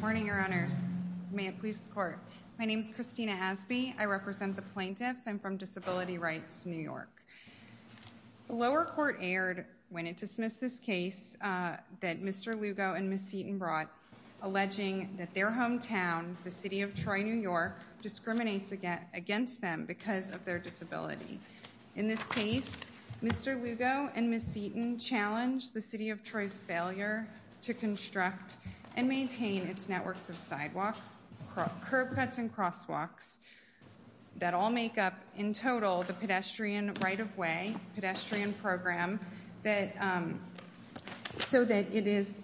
Morning, Your Honors. May it please the Court. My name is Christina Hasby. I represent the plaintiffs. I'm from Disability Rights, New York. The lower court erred when it dismissed this case that Mr. Lugo and Ms. Seaton brought, alleging that their hometown, the City of Troy, New York, discriminates against them because of their disability. In this case, Mr. Lugo and Ms. Seaton challenged the City of Troy's failure to construct and maintain its networks of sidewalks, curb cuts, and crosswalks that all make up, in total, the pedestrian right-of-way, pedestrian program, so that it is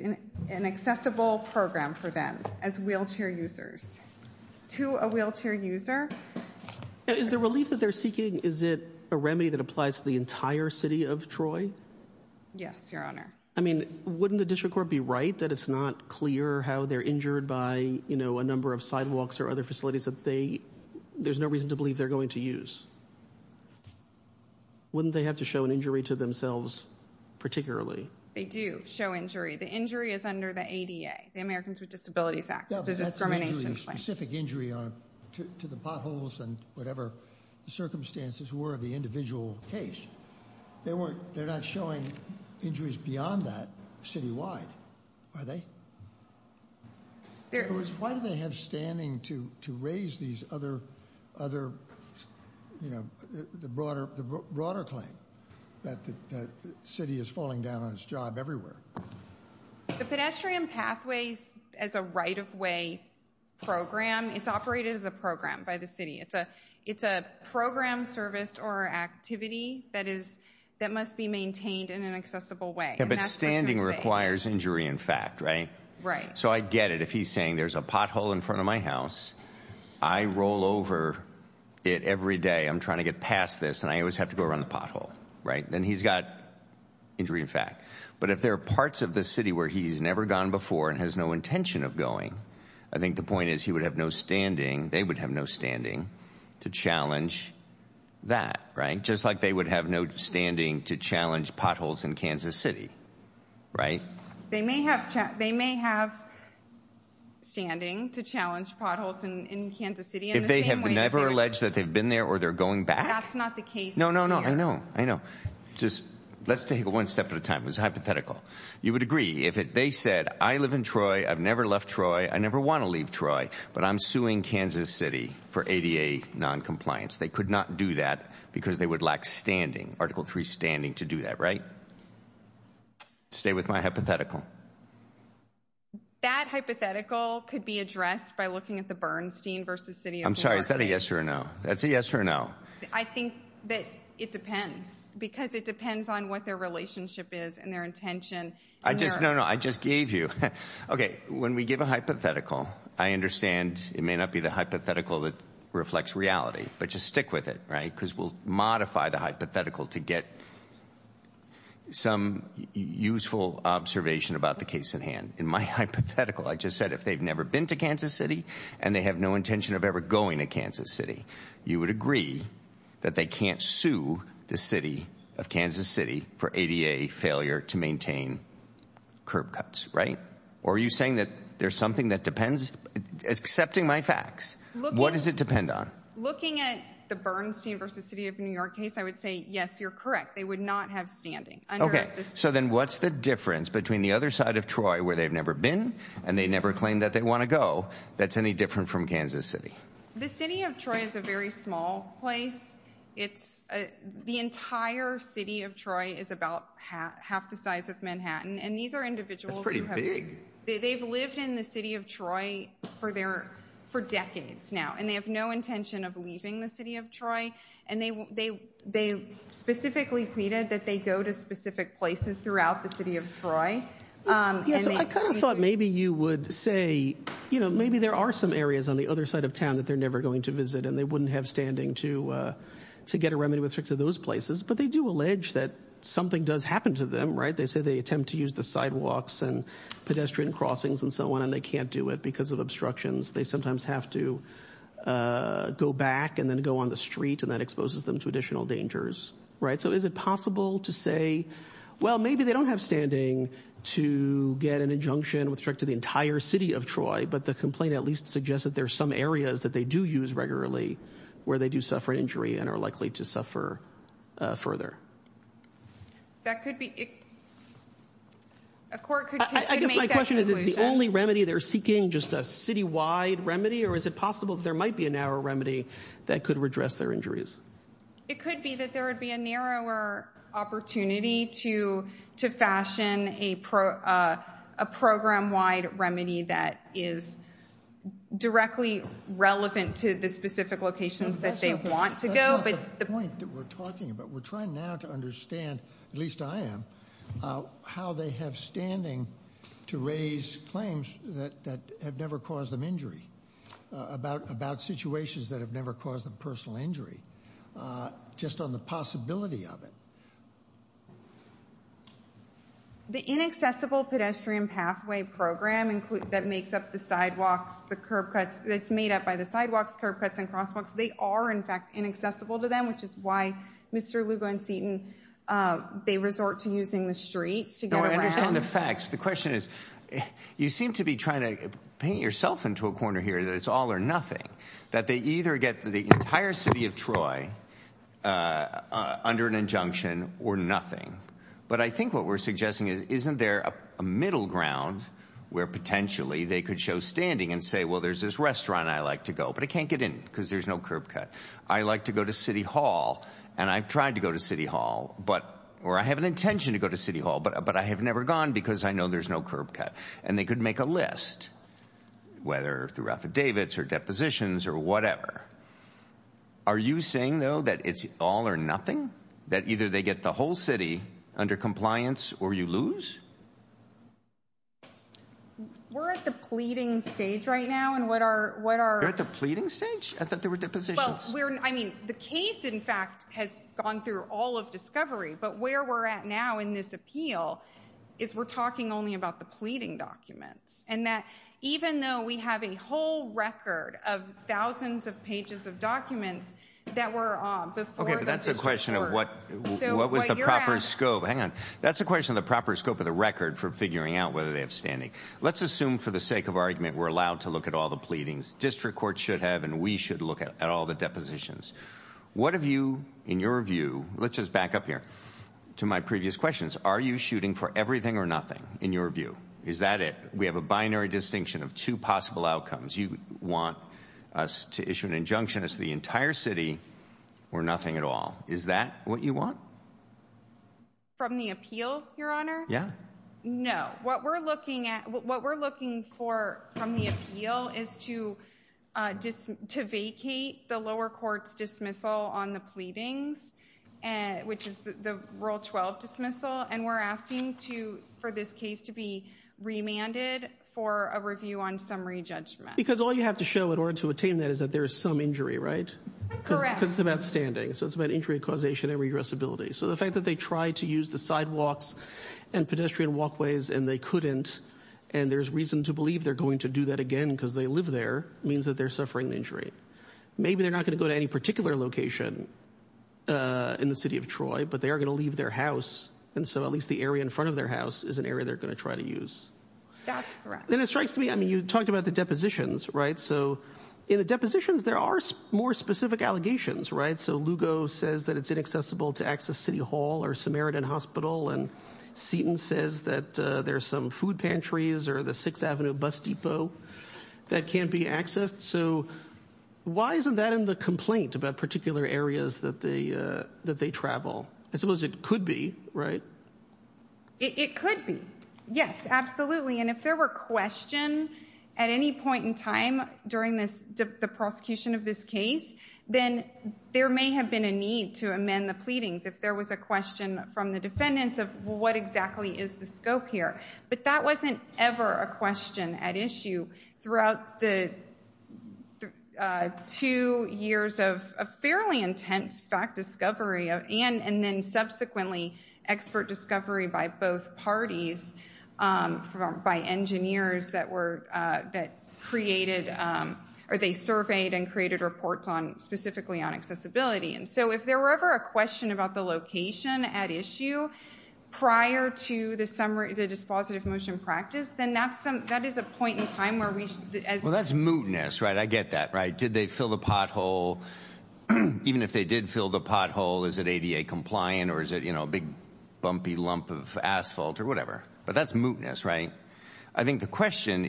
an accessible program for them as wheelchair users. To a wheelchair user. Is the relief that they're seeking, is it a remedy that applies to the entire City of Troy? Yes, Your Honor. I mean, wouldn't the district court be right that it's not clear how they're injured by, you know, a number of sidewalks or other facilities that they, there's no reason to believe they're going to use? Wouldn't they have to show an injury to themselves, particularly? They do show injury. The injury is under the ADA, the Americans with Disabilities Act. It's a discrimination claim. Yeah, but that's an injury, a specific injury to the potholes and whatever the circumstances were of the individual case. They're not showing injuries beyond that, citywide, are they? Why do they have standing to raise these other, you know, the broader claim that the city is falling down on its job everywhere? The pedestrian pathways as a right-of-way program, it's operated as a program by the city. It's a program, service, or activity that must be maintained in an accessible way. Yeah, but standing requires injury in fact, right? Right. So I get it if he's saying there's a pothole in front of my house, I roll over it every day. I'm trying to get past this and I always have to go around the pothole, right? Then he's got injury in fact. But if there are parts of the city where he's never gone before and has no intention of going, I think the point is he would have no standing, they would have no standing, to challenge that, right? Just like they would have no standing to challenge potholes in Kansas City, right? They may have standing to challenge potholes in Kansas City. If they have never alleged that they've been there or they're going back? That's not the case here. No, no, no, I know, I know. Just let's take it one step at a time. It was hypothetical. You would agree if they said I live in Troy, I've never left Troy, I never want to leave Troy, but I'm suing Kansas City for ADA noncompliance. They could not do that because they would lack standing, Article 3 standing to do that, right? Stay with my hypothetical. That hypothetical could be addressed by looking at the Bernstein v. City of Newark case. I'm sorry, is that a yes or a no? That's a yes or a no. I think that it depends because it depends on what their relationship is and their intention. I just, no, no, I just gave you. Okay, when we give a hypothetical, I understand it may not be the hypothetical that reflects reality, but just stick with it, right? Because we'll modify the hypothetical to get some useful observation about the case at hand. In my hypothetical, I just said if they've never been to Kansas City and they have no intention of ever going to Kansas City, you would agree that they can't sue the city of Kansas City for ADA failure to maintain curb cuts, right? Or are you saying that there's something that depends? Accepting my facts, what does it depend on? Looking at the Bernstein v. City of New York case, I would say yes, you're correct. They would not have standing. Okay, so then what's the difference between the other side of Troy where they've never been and they never claimed that they want to go that's any different from Kansas City? The city of Troy is a very small place. It's the entire city of Troy is about half the size of Manhattan, and these are individuals. That's pretty big. They've lived in the city of Troy for decades now, and they have no intention of leaving the city of Troy, and they specifically pleaded that they go to specific places throughout the city of Troy. I kind of thought maybe you would say maybe there are some areas on the other side of town that they're never going to visit, and they wouldn't have standing to get a remedy with respect to those places, but they do allege that something does happen to them, right? They say they attempt to use the sidewalks and pedestrian crossings and so on, and they can't do it because of obstructions. They sometimes have to go back and then go on the street, and that exposes them to additional dangers, right? So is it possible to say, well, maybe they don't have standing to get an injunction with respect to the entire city of Troy, but the complaint at least suggests that there are some areas that they do use regularly where they do suffer an injury and are likely to suffer further. I guess my question is, is the only remedy they're seeking just a citywide remedy, or is it possible that there might be a narrow remedy that could redress their injuries? It could be that there would be a narrower opportunity to fashion a program-wide remedy that is directly relevant to the specific locations that they want to go. That's not the point that we're talking about. We're trying now to understand, at least I am, how they have standing to raise claims that have never caused them injury, about situations that have never caused them personal injury, just on the possibility of it. The inaccessible pedestrian pathway program that makes up the sidewalks, the curb cuts, that's made up by the sidewalks, curb cuts, and crosswalks, they are, in fact, inaccessible to them, which is why Mr. Lugo and Seaton, they resort to using the streets to get around. The question is, you seem to be trying to paint yourself into a corner here that it's all or nothing, that they either get the entire city of Troy under an injunction or nothing. But I think what we're suggesting is, isn't there a middle ground where potentially they could show standing and say, well, there's this restaurant I like to go, but I can't get in because there's no curb cut. I like to go to City Hall, and I've tried to go to City Hall, or I have an intention to go to City Hall, but I have never gone because I know there's no curb cut. And they could make a list, whether through affidavits or depositions or whatever. Are you saying, though, that it's all or nothing? That either they get the whole city under compliance or you lose? We're at the pleading stage right now, and what are... You're at the pleading stage? I thought there were depositions. Well, I mean, the case, in fact, has gone through all of discovery, but where we're at now in this appeal is we're talking only about the pleading documents, and that even though we have a whole record of thousands of pages of documents that were on before the district court... Okay, but that's a question of what was the proper scope. Hang on. That's a question of the proper scope of the record for figuring out whether they have standing. Let's assume, for the sake of argument, we're allowed to look at all the pleadings. District courts should have, and we should look at all the depositions. What have you, in your view... Let's just back up here to my previous questions. Are you shooting for everything or nothing, in your view? Is that it? We have a binary distinction of two possible outcomes. You want us to issue an injunction as to the entire city or nothing at all. Is that what you want? From the appeal, Your Honor? Yeah. No. What we're looking for from the appeal is to vacate the lower court's dismissal on the pleadings, which is the Rule 12 dismissal, and we're asking for this case to be remanded for a review on summary judgment. Because all you have to show in order to attain that is that there is some injury, right? Correct. Because it's about standing, so it's about injury causation and regressibility. So the fact that they tried to use the sidewalks and pedestrian walkways and they couldn't, and there's reason to believe they're going to do that again because they live there, means that they're suffering an injury. Maybe they're not going to go to any particular location in the city of Troy, but they are going to leave their house, and so at least the area in front of their house is an area they're going to try to use. That's correct. Then it strikes me, I mean, you talked about the depositions, right? So in the depositions, there are more specific allegations, right? So Lugo says that it's inaccessible to access City Hall or Samaritan Hospital, and Seton says that there's some food pantries or the 6th Avenue bus depot that can't be accessed. So why isn't that in the complaint about particular areas that they travel? I suppose it could be, right? It could be, yes, absolutely. And if there were question at any point in time during the prosecution of this case, then there may have been a need to amend the pleadings if there was a question from the defendants of what exactly is the scope here. But that wasn't ever a question at issue throughout the two years of a fairly intense fact discovery and then subsequently expert discovery by both parties, by engineers that created or they surveyed and created reports specifically on accessibility. So if there were ever a question about the location at issue prior to the dispositive motion practice, then that is a point in time where we should- Well, that's mootness, right? I get that, right? Even if they did fill the pothole, is it ADA compliant or is it a big bumpy lump of asphalt or whatever? But that's mootness, right? I think the question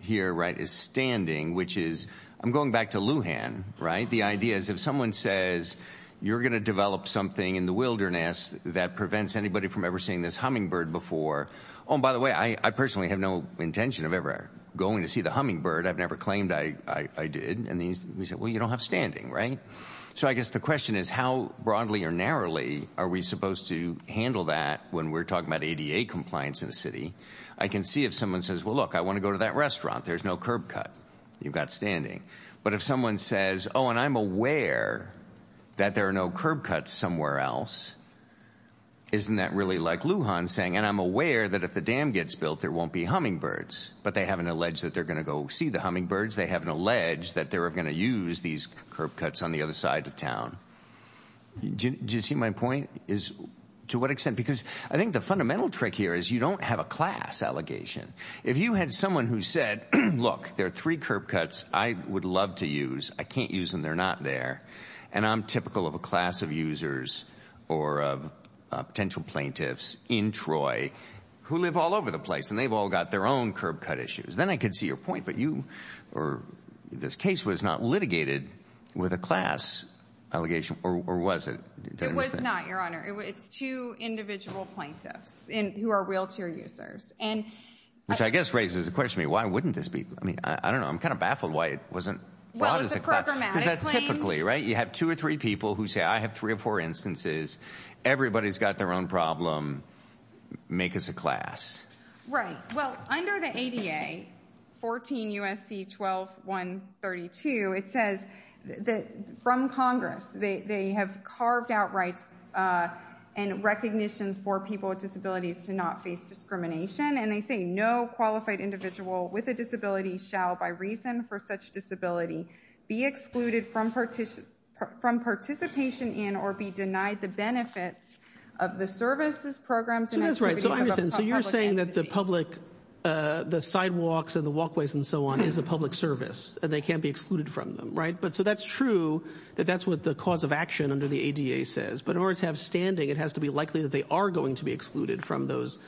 here is standing, which is- I'm going back to Lujan, right? The idea is if someone says you're going to develop something in the wilderness that prevents anybody from ever seeing this hummingbird before- Oh, and by the way, I personally have no intention of ever going to see the hummingbird. I've never claimed I did. And we said, well, you don't have standing, right? So I guess the question is how broadly or narrowly are we supposed to handle that when we're talking about ADA compliance in the city? I can see if someone says, well, look, I want to go to that restaurant. There's no curb cut. You've got standing. But if someone says, oh, and I'm aware that there are no curb cuts somewhere else, isn't that really like Lujan saying, and I'm aware that if the dam gets built, there won't be hummingbirds, but they haven't alleged that they're going to go see the hummingbirds. They haven't alleged that they're going to use these curb cuts on the other side of town. Do you see my point is to what extent? Because I think the fundamental trick here is you don't have a class allegation. If you had someone who said, look, there are three curb cuts I would love to use. I can't use them. They're not there. And I'm typical of a class of users or of potential plaintiffs in Troy who live all over the place, and they've all got their own curb cut issues. Then I could see your point. But you or this case was not litigated with a class allegation, or was it? It was not, Your Honor. It's two individual plaintiffs who are wheelchair users. Which I guess raises the question to me, why wouldn't this be? I mean, I don't know. I'm kind of baffled why it wasn't brought as a class. Well, it's a programmatic claim. Because that's typically, right? You have two or three people who say I have three or four instances. Everybody's got their own problem. Make us a class. Right. Well, under the ADA, 14 U.S.C. 12-132, it says from Congress, they have carved out rights and recognition for people with disabilities to not face discrimination. And they say no qualified individual with a disability shall, by reason for such disability, be excluded from participation in or be denied the benefits of the services, programs, and activities of a public entity. So the sidewalks and the walkways and so on is a public service. And they can't be excluded from them. Right? So that's true that that's what the cause of action under the ADA says. But in order to have standing, it has to be likely that they are going to be excluded from those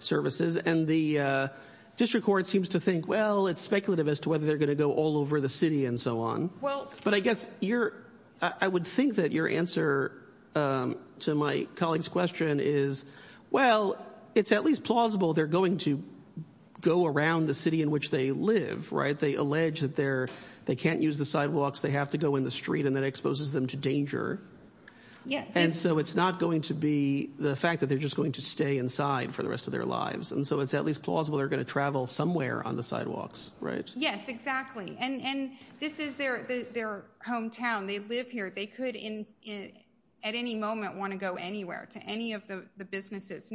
services. And the district court seems to think, well, it's speculative as to whether they're going to go all over the city and so on. But I guess I would think that your answer to my colleague's question is, well, it's at least plausible they're going to go around the city in which they live. Right? They allege that they can't use the sidewalks. They have to go in the street. And that exposes them to danger. And so it's not going to be the fact that they're just going to stay inside for the rest of their lives. And so it's at least plausible they're going to travel somewhere on the sidewalks. Right? Yes, exactly. And this is their hometown. They live here. They could, at any moment, want to go anywhere to any of the businesses.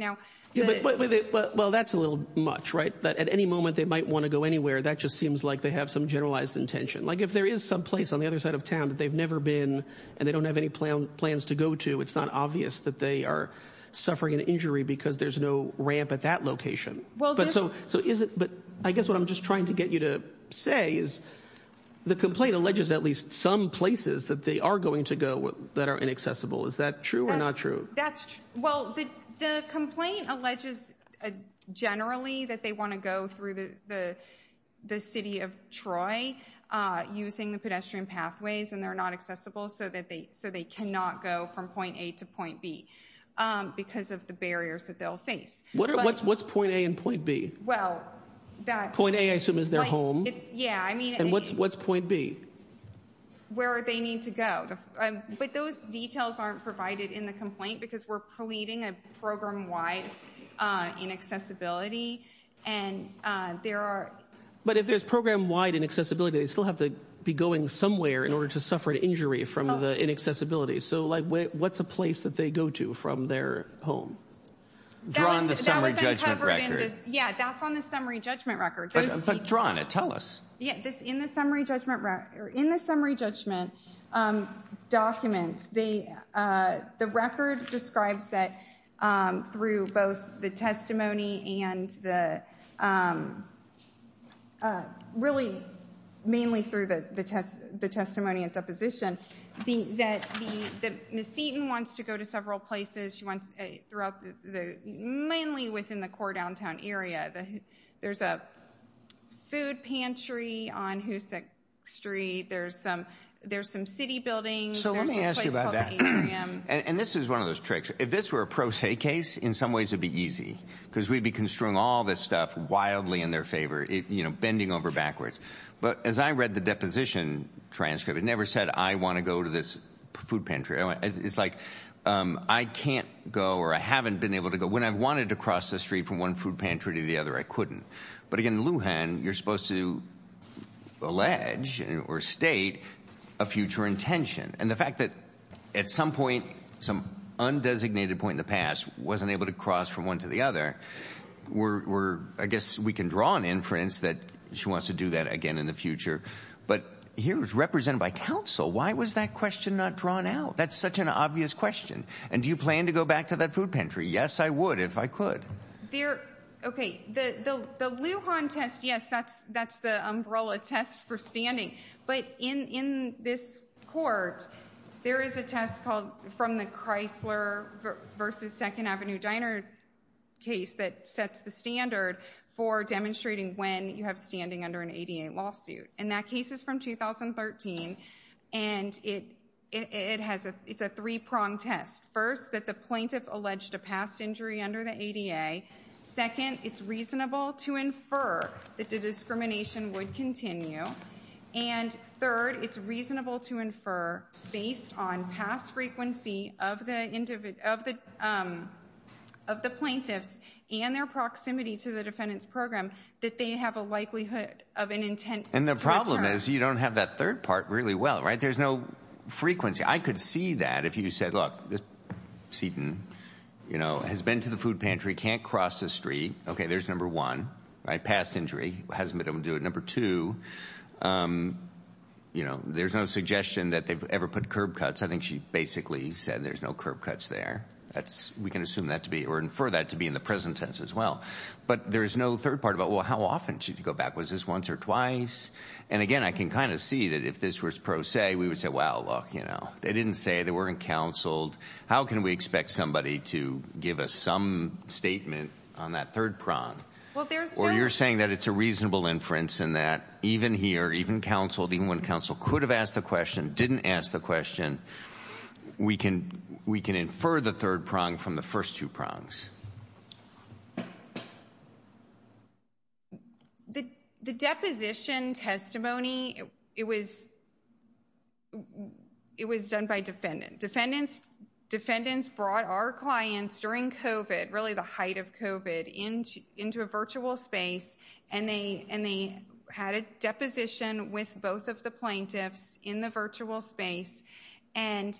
Well, that's a little much. Right? But at any moment, they might want to go anywhere. That just seems like they have some generalized intention. Like if there is some place on the other side of town that they've never been and they don't have any plans to go to, it's not obvious that they are suffering an injury because there's no ramp at that location. But I guess what I'm just trying to get you to say is the complaint alleges at least some places that they are going to go that are inaccessible. Is that true or not true? That's true. Well, the complaint alleges generally that they want to go through the city of Troy using the pedestrian pathways. And they're not accessible. So they cannot go from point A to point B because of the barriers that they'll face. What's point A and point B? Point A, I assume, is their home. Yeah. And what's point B? Where they need to go. But those details aren't provided in the complaint because we're pleading a program-wide inaccessibility. But if there's program-wide inaccessibility, they still have to be going somewhere in order to suffer an injury from the inaccessibility. So what's a place that they go to from their home? Drawing the summary judgment record. Yeah, that's on the summary judgment record. But draw on it. Tell us. In the summary judgment document, the record describes that through both the testimony and the really mainly through the testimony and deposition, that Ms. Seaton wants to go to several places. She wants to go mainly within the core downtown area. There's a food pantry on Hoosick Street. There's some city buildings. So let me ask you about that. And this is one of those tricks. If this were a pro se case, in some ways it would be easy because we'd be construing all this stuff wildly in their favor, bending over backwards. But as I read the deposition transcript, it never said I want to go to this food pantry. It's like I can't go or I haven't been able to go. When I wanted to cross the street from one food pantry to the other, I couldn't. But, again, in Lujan, you're supposed to allege or state a future intention. And the fact that at some point, some undesignated point in the past, wasn't able to cross from one to the other, I guess we can draw an inference that she wants to do that again in the future. But here it was represented by counsel. Why was that question not drawn out? That's such an obvious question. And do you plan to go back to that food pantry? Yes, I would if I could. Okay. The Lujan test, yes, that's the umbrella test for standing. But in this court, there is a test called from the Chrysler versus 2nd Avenue Diner case that sets the standard for demonstrating when you have standing under an ADA lawsuit. And that case is from 2013. And it's a three-pronged test. First, that the plaintiff alleged a past injury under the ADA. Second, it's reasonable to infer that the discrimination would continue. And third, it's reasonable to infer, based on past frequency of the plaintiffs and their proximity to the defendant's program, that they have a likelihood of an intent to return. And the problem is you don't have that third part really well, right? There's no frequency. I could see that if you said, look, Seaton, you know, has been to the food pantry, can't cross the street. Okay, there's number one, right? Past injury. Hasn't been able to do it. Number two, you know, there's no suggestion that they've ever put curb cuts. I think she basically said there's no curb cuts there. We can assume that to be or infer that to be in the present tense as well. But there's no third part about, well, how often should she go back? Was this once or twice? And, again, I can kind of see that if this were pro se, we would say, well, look, you know, they didn't say, they weren't counseled. How can we expect somebody to give us some statement on that third prong? Or you're saying that it's a reasonable inference and that even here, even counseled, even when counsel could have asked the question, didn't ask the question, we can infer the third prong from the first two prongs. The deposition testimony, it was done by defendants. Defendants brought our clients during COVID, really the height of COVID, into a virtual space. And they had a deposition with both of the plaintiffs in the virtual space. And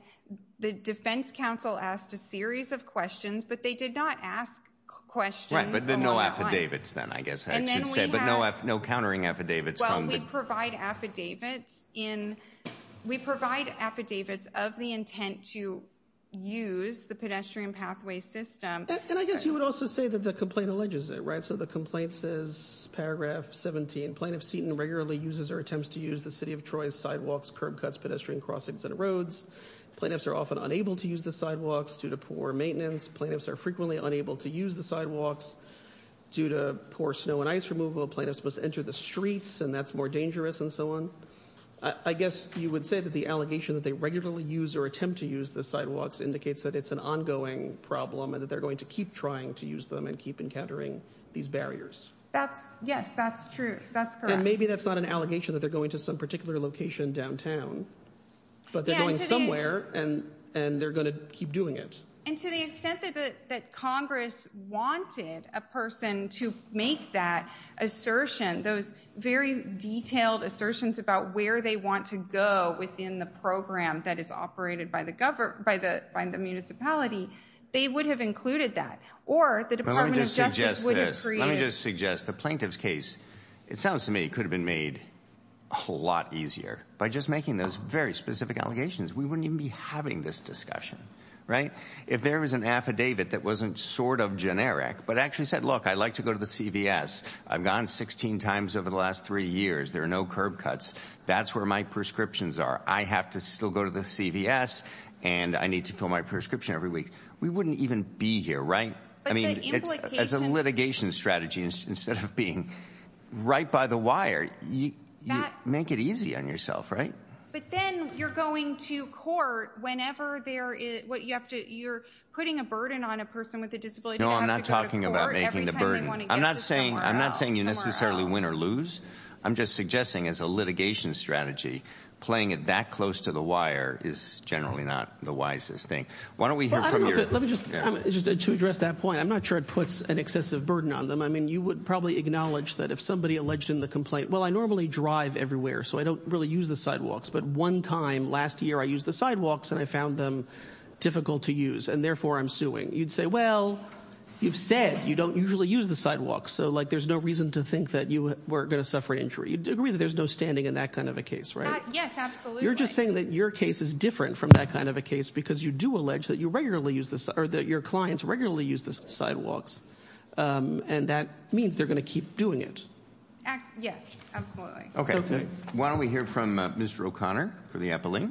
the defense counsel asked a series of questions, but they did not ask questions along the line. Right, but no affidavits then, I guess I should say. But no countering affidavits. Well, we provide affidavits of the intent to use the pedestrian pathway system. And I guess you would also say that the complaint alleges it, right? So the complaint says, paragraph 17, plaintiff Seaton regularly uses or attempts to use the city of Troy's sidewalks, curb cuts, pedestrian crossings, and roads. Plaintiffs are often unable to use the sidewalks due to poor maintenance. Plaintiffs are frequently unable to use the sidewalks due to poor snow and ice removal. Plaintiffs must enter the streets, and that's more dangerous, and so on. I guess you would say that the allegation that they regularly use or attempt to use the sidewalks indicates that it's an ongoing problem. And that they're going to keep trying to use them and keep encountering these barriers. Yes, that's true. That's correct. And maybe that's not an allegation that they're going to some particular location downtown. But they're going somewhere, and they're going to keep doing it. And to the extent that Congress wanted a person to make that assertion, those very detailed assertions about where they want to go within the program that is operated by the municipality, they would have included that. Or the Department of Justice would have created— Let me just suggest this. Let me just suggest the plaintiff's case, it sounds to me, could have been made a lot easier by just making those very specific allegations. We wouldn't even be having this discussion, right? If there was an affidavit that wasn't sort of generic, but actually said, look, I like to go to the CVS. I've gone 16 times over the last three years. There are no curb cuts. That's where my prescriptions are. I have to still go to the CVS, and I need to fill my prescription every week. We wouldn't even be here, right? I mean, as a litigation strategy, instead of being right by the wire, you make it easy on yourself, right? But then you're going to court whenever there is—you're putting a burden on a person with a disability. No, I'm not talking about making the burden. I'm not saying you necessarily win or lose. I'm just suggesting as a litigation strategy, playing it that close to the wire is generally not the wisest thing. Why don't we hear from your— To address that point, I'm not sure it puts an excessive burden on them. I mean, you would probably acknowledge that if somebody alleged in the complaint, well, I normally drive everywhere, so I don't really use the sidewalks, but one time last year I used the sidewalks, and I found them difficult to use, and therefore I'm suing. You'd say, well, you've said you don't usually use the sidewalks, so, like, there's no reason to think that you weren't going to suffer an injury. You'd agree that there's no standing in that kind of a case, right? Yes, absolutely. You're just saying that your case is different from that kind of a case because you do allege that your clients regularly use the sidewalks, and that means they're going to keep doing it. Yes, absolutely. Okay. Why don't we hear from Mr. O'Connor for the appellate?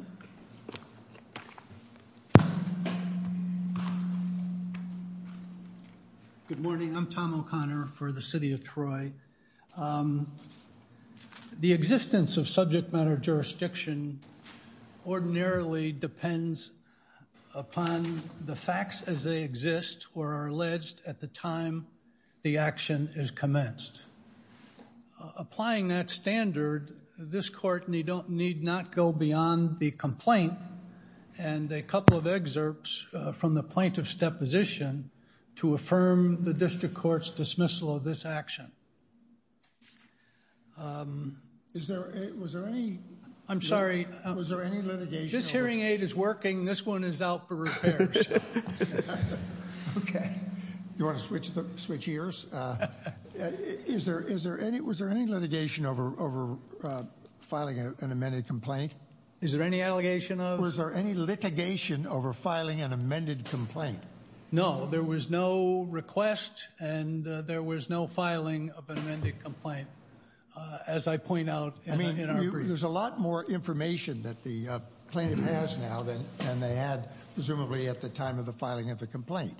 Good morning. I'm Tom O'Connor for the City of Troy. The existence of subject matter jurisdiction ordinarily depends upon the facts as they exist or are alleged at the time the action is commenced. Applying that standard, this court need not go beyond the complaint and a couple of excerpts from the plaintiff's deposition to affirm the district court's dismissal of this action. Was there any... I'm sorry. Was there any litigation... This hearing aid is working. This one is out for repairs. Okay. Do you want to switch ears? Was there any litigation over filing an amended complaint? Is there any allegation of... Was there any litigation over filing an amended complaint? No. There was no request and there was no filing of an amended complaint. As I point out... I mean, there's a lot more information that the plaintiff has now than they had presumably at the time of the filing of the complaint.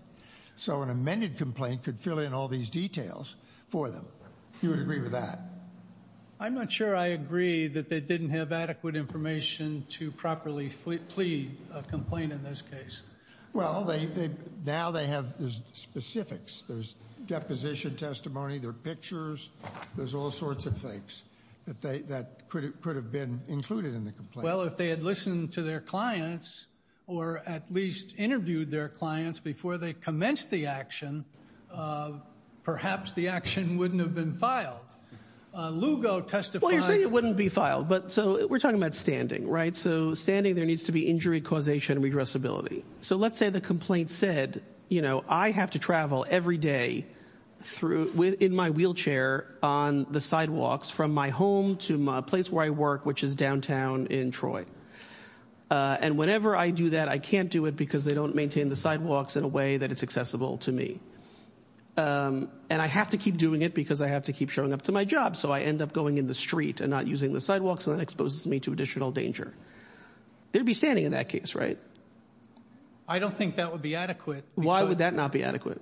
So an amended complaint could fill in all these details for them. You would agree with that? I'm not sure I agree that they didn't have adequate information to properly plead a complaint in this case. Well, now they have the specifics. There's deposition testimony. There are pictures. There's all sorts of things that could have been included in the complaint. Well, if they had listened to their clients or at least interviewed their clients before they commenced the action, perhaps the action wouldn't have been filed. Lugo testified... Well, you're saying it wouldn't be filed. So we're talking about standing, right? So standing, there needs to be injury causation and regressibility. So let's say the complaint said, you know, I have to travel every day in my wheelchair on the sidewalks from my home to a place where I work, which is downtown in Troy. And whenever I do that, I can't do it because they don't maintain the sidewalks in a way that it's accessible to me. And I have to keep doing it because I have to keep showing up to my job, so I end up going in the street and not using the sidewalks, and that exposes me to additional danger. They'd be standing in that case, right? I don't think that would be adequate. Why would that not be adequate?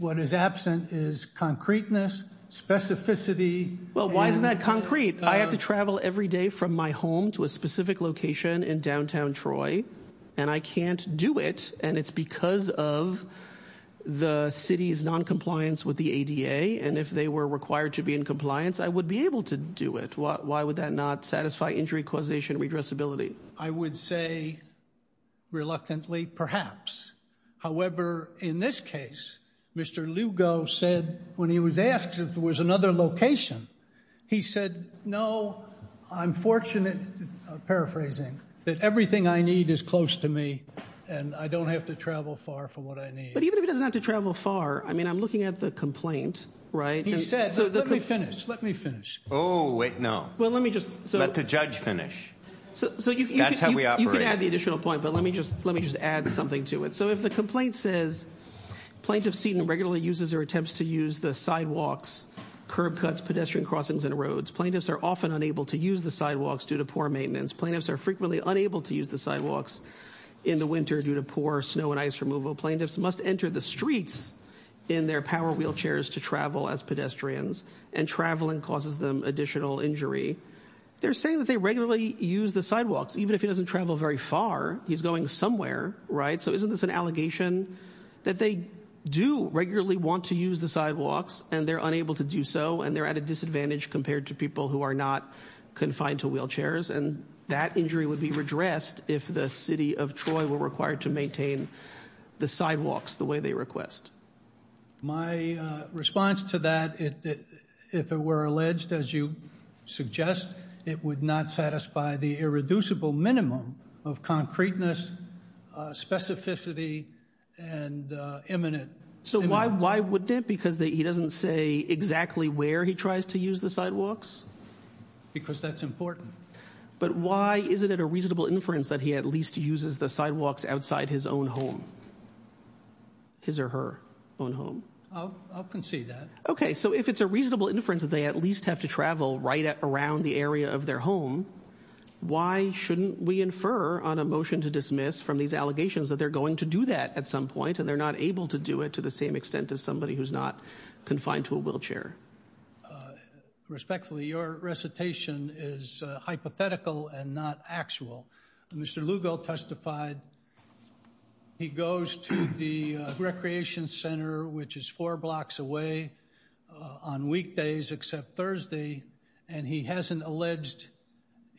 What is absent is concreteness, specificity... Well, why isn't that concrete? I have to travel every day from my home to a specific location in downtown Troy, and I can't do it, and it's because of the city's noncompliance with the ADA. And if they were required to be in compliance, I would be able to do it. Why would that not satisfy injury causation and regressibility? I would say, reluctantly, perhaps. However, in this case, Mr. Lugo said, when he was asked if there was another location, he said, no, I'm fortunate, paraphrasing, that everything I need is close to me and I don't have to travel far for what I need. But even if he doesn't have to travel far, I mean, I'm looking at the complaint, right? He said, let me finish, let me finish. Oh, wait, no. Well, let me just... Let the judge finish. That's how we operate. You can add the additional point, but let me just add something to it. So if the complaint says, Plaintiff Seaton regularly uses or attempts to use the sidewalks, curb cuts, pedestrian crossings, and roads. Plaintiffs are often unable to use the sidewalks due to poor maintenance. Plaintiffs are frequently unable to use the sidewalks in the winter due to poor snow and ice removal. Plaintiffs must enter the streets in their power wheelchairs to travel as pedestrians, and traveling causes them additional injury. They're saying that they regularly use the sidewalks. Even if he doesn't travel very far, he's going somewhere, right? There's an allegation that they do regularly want to use the sidewalks, and they're unable to do so, and they're at a disadvantage compared to people who are not confined to wheelchairs. And that injury would be redressed if the city of Troy were required to maintain the sidewalks the way they request. My response to that, if it were alleged, as you suggest, it would not satisfy the irreducible minimum of concreteness, specificity, and imminence. So why wouldn't it? Because he doesn't say exactly where he tries to use the sidewalks? Because that's important. But why isn't it a reasonable inference that he at least uses the sidewalks outside his own home? His or her own home? I'll concede that. Okay, so if it's a reasonable inference that they at least have to travel right around the area of their home, why shouldn't we infer on a motion to dismiss from these allegations that they're going to do that at some point, and they're not able to do it to the same extent as somebody who's not confined to a wheelchair? Respectfully, your recitation is hypothetical and not actual. Mr. Lugo testified. He goes to the recreation center, which is four blocks away on weekdays except Thursday, and he hasn't alleged,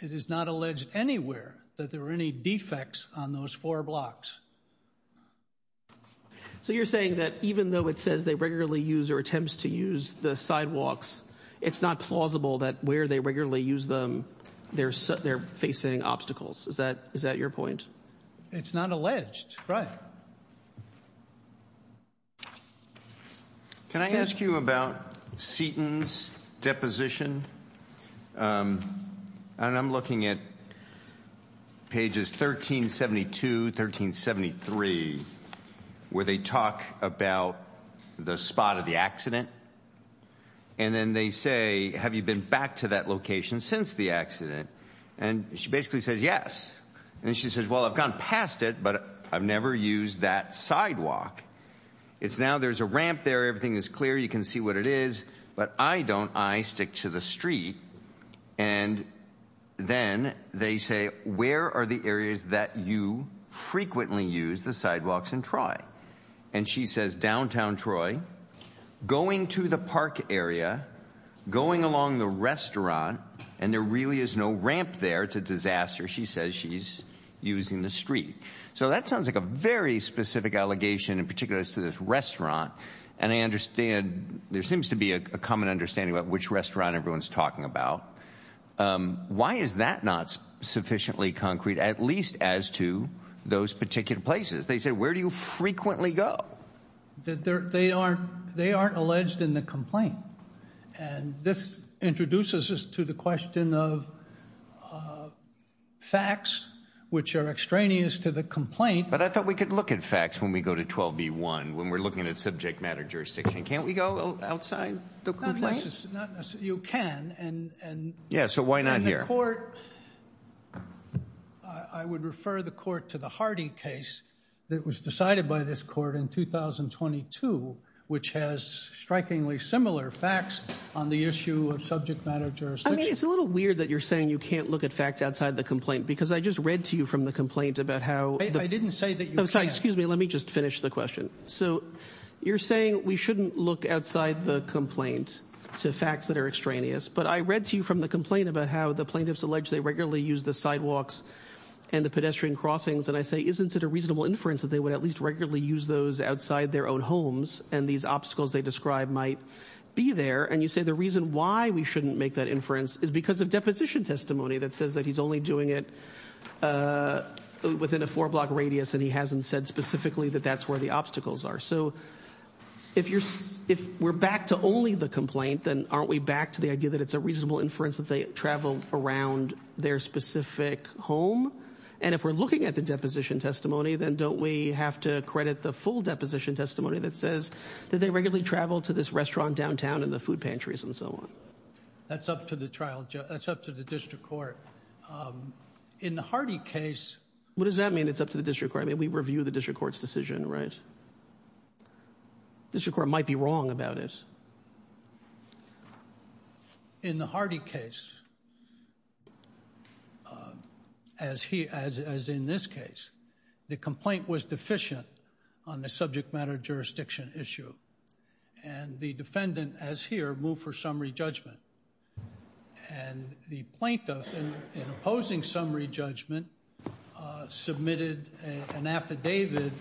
it is not alleged anywhere, that there are any defects on those four blocks. So you're saying that even though it says they regularly use or attempts to use the sidewalks, it's not plausible that where they regularly use them, they're facing obstacles. Is that your point? It's not alleged, right. Can I ask you about Seaton's deposition? And I'm looking at pages 1372, 1373, where they talk about the spot of the accident. And then they say, have you been back to that location since the accident? And she basically says yes. And she says, well, I've gone past it, but I've never used that sidewalk. It's now there's a ramp there. Everything is clear. You can see what it is. But I don't. I stick to the street. And then they say, where are the areas that you frequently use the sidewalks in Troy? And she says downtown Troy, going to the park area, going along the restaurant, and there really is no ramp there. It's a disaster. She says she's using the street. So that sounds like a very specific allegation, in particular as to this restaurant. And I understand there seems to be a common understanding about which restaurant everyone's talking about. Why is that not sufficiently concrete, at least as to those particular places? They said, where do you frequently go? They aren't alleged in the complaint. And this introduces us to the question of facts, which are extraneous to the complaint. But I thought we could look at facts when we go to 12B1, when we're looking at subject matter jurisdiction. Can't we go outside the complaint? Not necessarily. You can. Yeah, so why not here? I would refer the court to the Hardy case that was decided by this court in 2022, which has strikingly similar facts on the issue of subject matter jurisdiction. I mean, it's a little weird that you're saying you can't look at facts outside the complaint, because I just read to you from the complaint about how— I didn't say that you can't. Excuse me, let me just finish the question. So you're saying we shouldn't look outside the complaint to facts that are extraneous. But I read to you from the complaint about how the plaintiffs allege they regularly use the sidewalks and the pedestrian crossings. And I say, isn't it a reasonable inference that they would at least regularly use those outside their own homes, and these obstacles they describe might be there? And you say the reason why we shouldn't make that inference is because of deposition testimony that says that he's only doing it within a four-block radius and he hasn't said specifically that that's where the obstacles are. So if we're back to only the complaint, then aren't we back to the idea that it's a reasonable inference that they travel around their specific home? And if we're looking at the deposition testimony, then don't we have to credit the full deposition testimony that says that they regularly travel to this restaurant downtown and the food pantries and so on? That's up to the trial judge. That's up to the district court. In the Hardy case... What does that mean, it's up to the district court? I mean, we review the district court's decision, right? The district court might be wrong about it. In the Hardy case, as in this case, the complaint was deficient on the subject matter jurisdiction issue. And the defendant, as here, moved for summary judgment. And the plaintiff, in opposing summary judgment, submitted an affidavit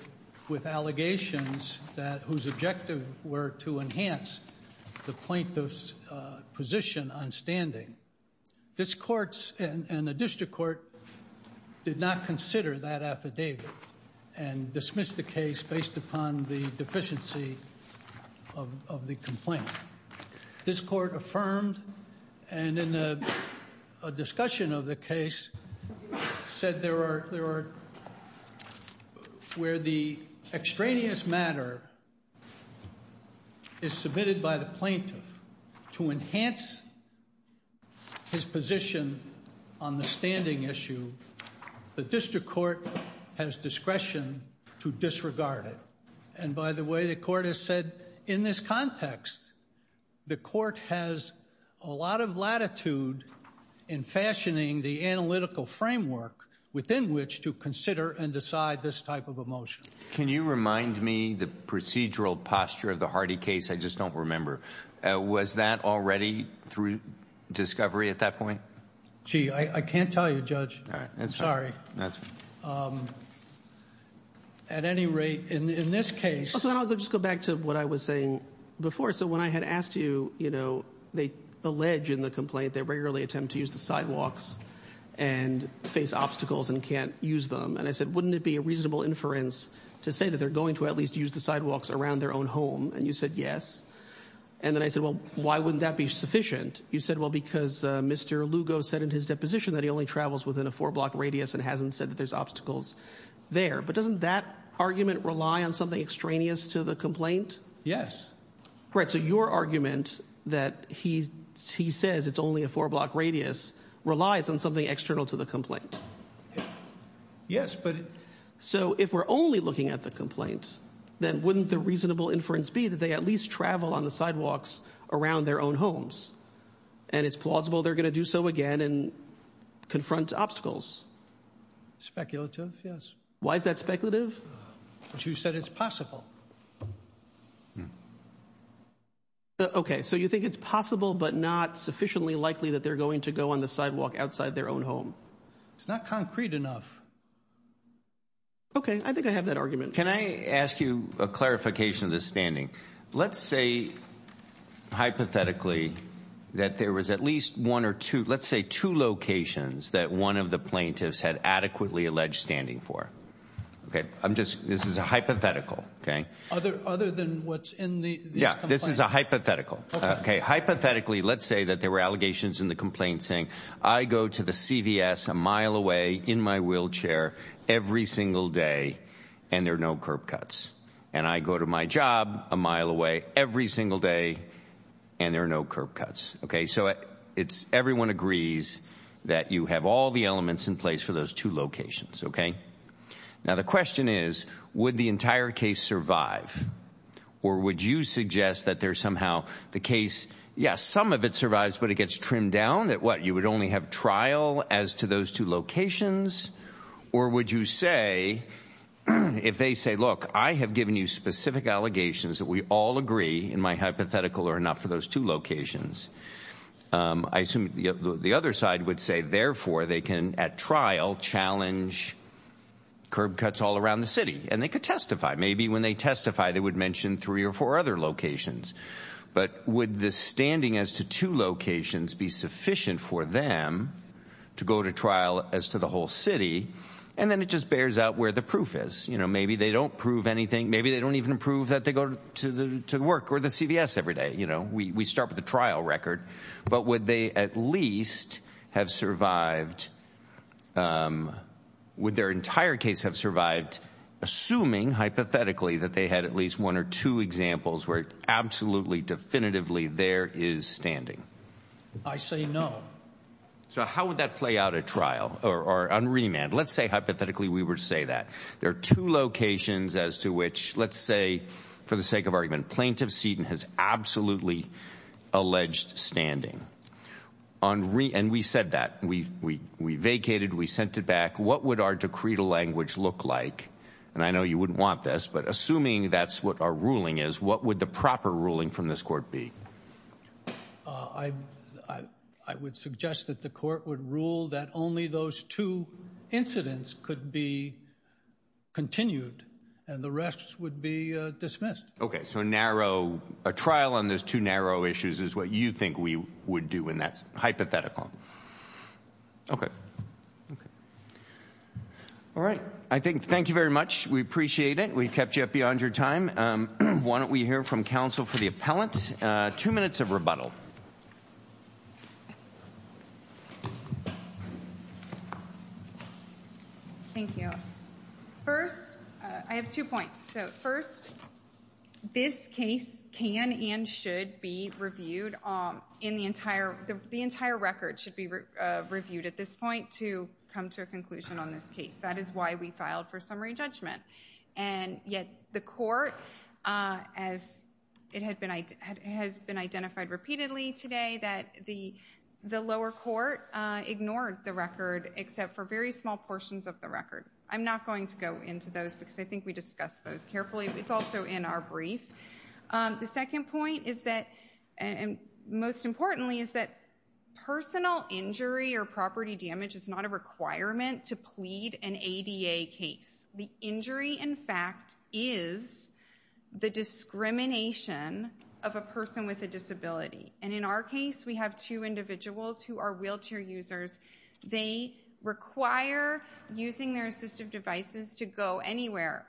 with allegations whose objective were to enhance the plaintiff's position on standing. This court and the district court did not consider that affidavit and dismissed the case based upon the deficiency of the complaint. This court affirmed, and in a discussion of the case, said there are... where the extraneous matter is submitted by the plaintiff to enhance his position on the standing issue, the district court has discretion to disregard it. And by the way, the court has said, in this context, the court has a lot of latitude in fashioning the analytical framework within which to consider and decide this type of a motion. Can you remind me the procedural posture of the Hardy case? I just don't remember. Was that already through discovery at that point? Gee, I can't tell you, Judge. I'm sorry. At any rate, in this case... I'll just go back to what I was saying before. So when I had asked you, you know, they allege in the complaint they regularly attempt to use the sidewalks and face obstacles and can't use them. And I said, wouldn't it be a reasonable inference to say that they're going to at least use the sidewalks around their own home? And you said yes. And then I said, well, why wouldn't that be sufficient? You said, well, because Mr. Lugo said in his deposition that he only travels within a four-block radius and hasn't said that there's obstacles there. But doesn't that argument rely on something extraneous to the complaint? Yes. Right, so your argument that he says it's only a four-block radius relies on something external to the complaint. Yes, but... So if we're only looking at the complaint, then wouldn't the reasonable inference be that they at least travel on the sidewalks around their own homes? And it's plausible they're going to do so again and confront obstacles? Speculative, yes. Why is that speculative? Because you said it's possible. Okay, so you think it's possible but not sufficiently likely that they're going to go on the sidewalk outside their own home? It's not concrete enough. Okay, I think I have that argument. Can I ask you a clarification of this standing? Let's say, hypothetically, that there was at least one or two, let's say two locations that one of the plaintiffs had adequately alleged standing for. This is a hypothetical, okay? Other than what's in this complaint? Yeah, this is a hypothetical. Okay. Hypothetically, let's say that there were allegations in the complaint saying I go to the CVS a mile away in my wheelchair every single day and there are no curb cuts. And I go to my job a mile away every single day and there are no curb cuts. Okay, so everyone agrees that you have all the elements in place for those two locations, okay? Now the question is, would the entire case survive? Or would you suggest that there's somehow the case, yes, some of it survives but it gets trimmed down, that what, you would only have trial as to those two locations? Or would you say, if they say, look, I have given you specific allegations that we all agree in my hypothetical are enough for those two locations, I assume the other side would say, therefore, they can, at trial, challenge curb cuts all around the city. And they could testify. Maybe when they testify they would mention three or four other locations. But would the standing as to two locations be sufficient for them to go to trial as to the whole city? And then it just bears out where the proof is. Maybe they don't prove anything. Maybe they don't even prove that they go to work or the CVS every day. We start with the trial record. But would they at least have survived, would their entire case have survived assuming, hypothetically, that they had at least one or two examples where absolutely definitively there is standing? I say no. So how would that play out at trial or on remand? Let's say, hypothetically, we were to say that. There are two locations as to which, let's say, for the sake of argument, Plaintiff Seaton has absolutely alleged standing. And we said that. We vacated. We sent it back. What would our decreed language look like? And I know you wouldn't want this, but assuming that's what our ruling is, what would the proper ruling from this court be? I would suggest that the court would rule that only those two incidents could be continued and the rest would be dismissed. Okay, so a trial on those two narrow issues is what you think we would do in that hypothetical. Okay. All right. Thank you very much. We appreciate it. We've kept you up beyond your time. Why don't we hear from counsel for the appellant? Two minutes of rebuttal. Thank you. First, I have two points. First, this case can and should be reviewed. The entire record should be reviewed at this point to come to a conclusion on this case. That is why we filed for summary judgment. And yet the court, as it has been identified repeatedly today, that the lower court ignored the record except for very small portions of the record. I'm not going to go into those because I think we discussed those carefully. It's also in our brief. The second point is that, and most importantly, is that personal injury or property damage is not a requirement to plead an ADA case. The injury, in fact, is the discrimination of a person with a disability. And in our case, we have two individuals who are wheelchair users. They require using their assistive devices to go anywhere.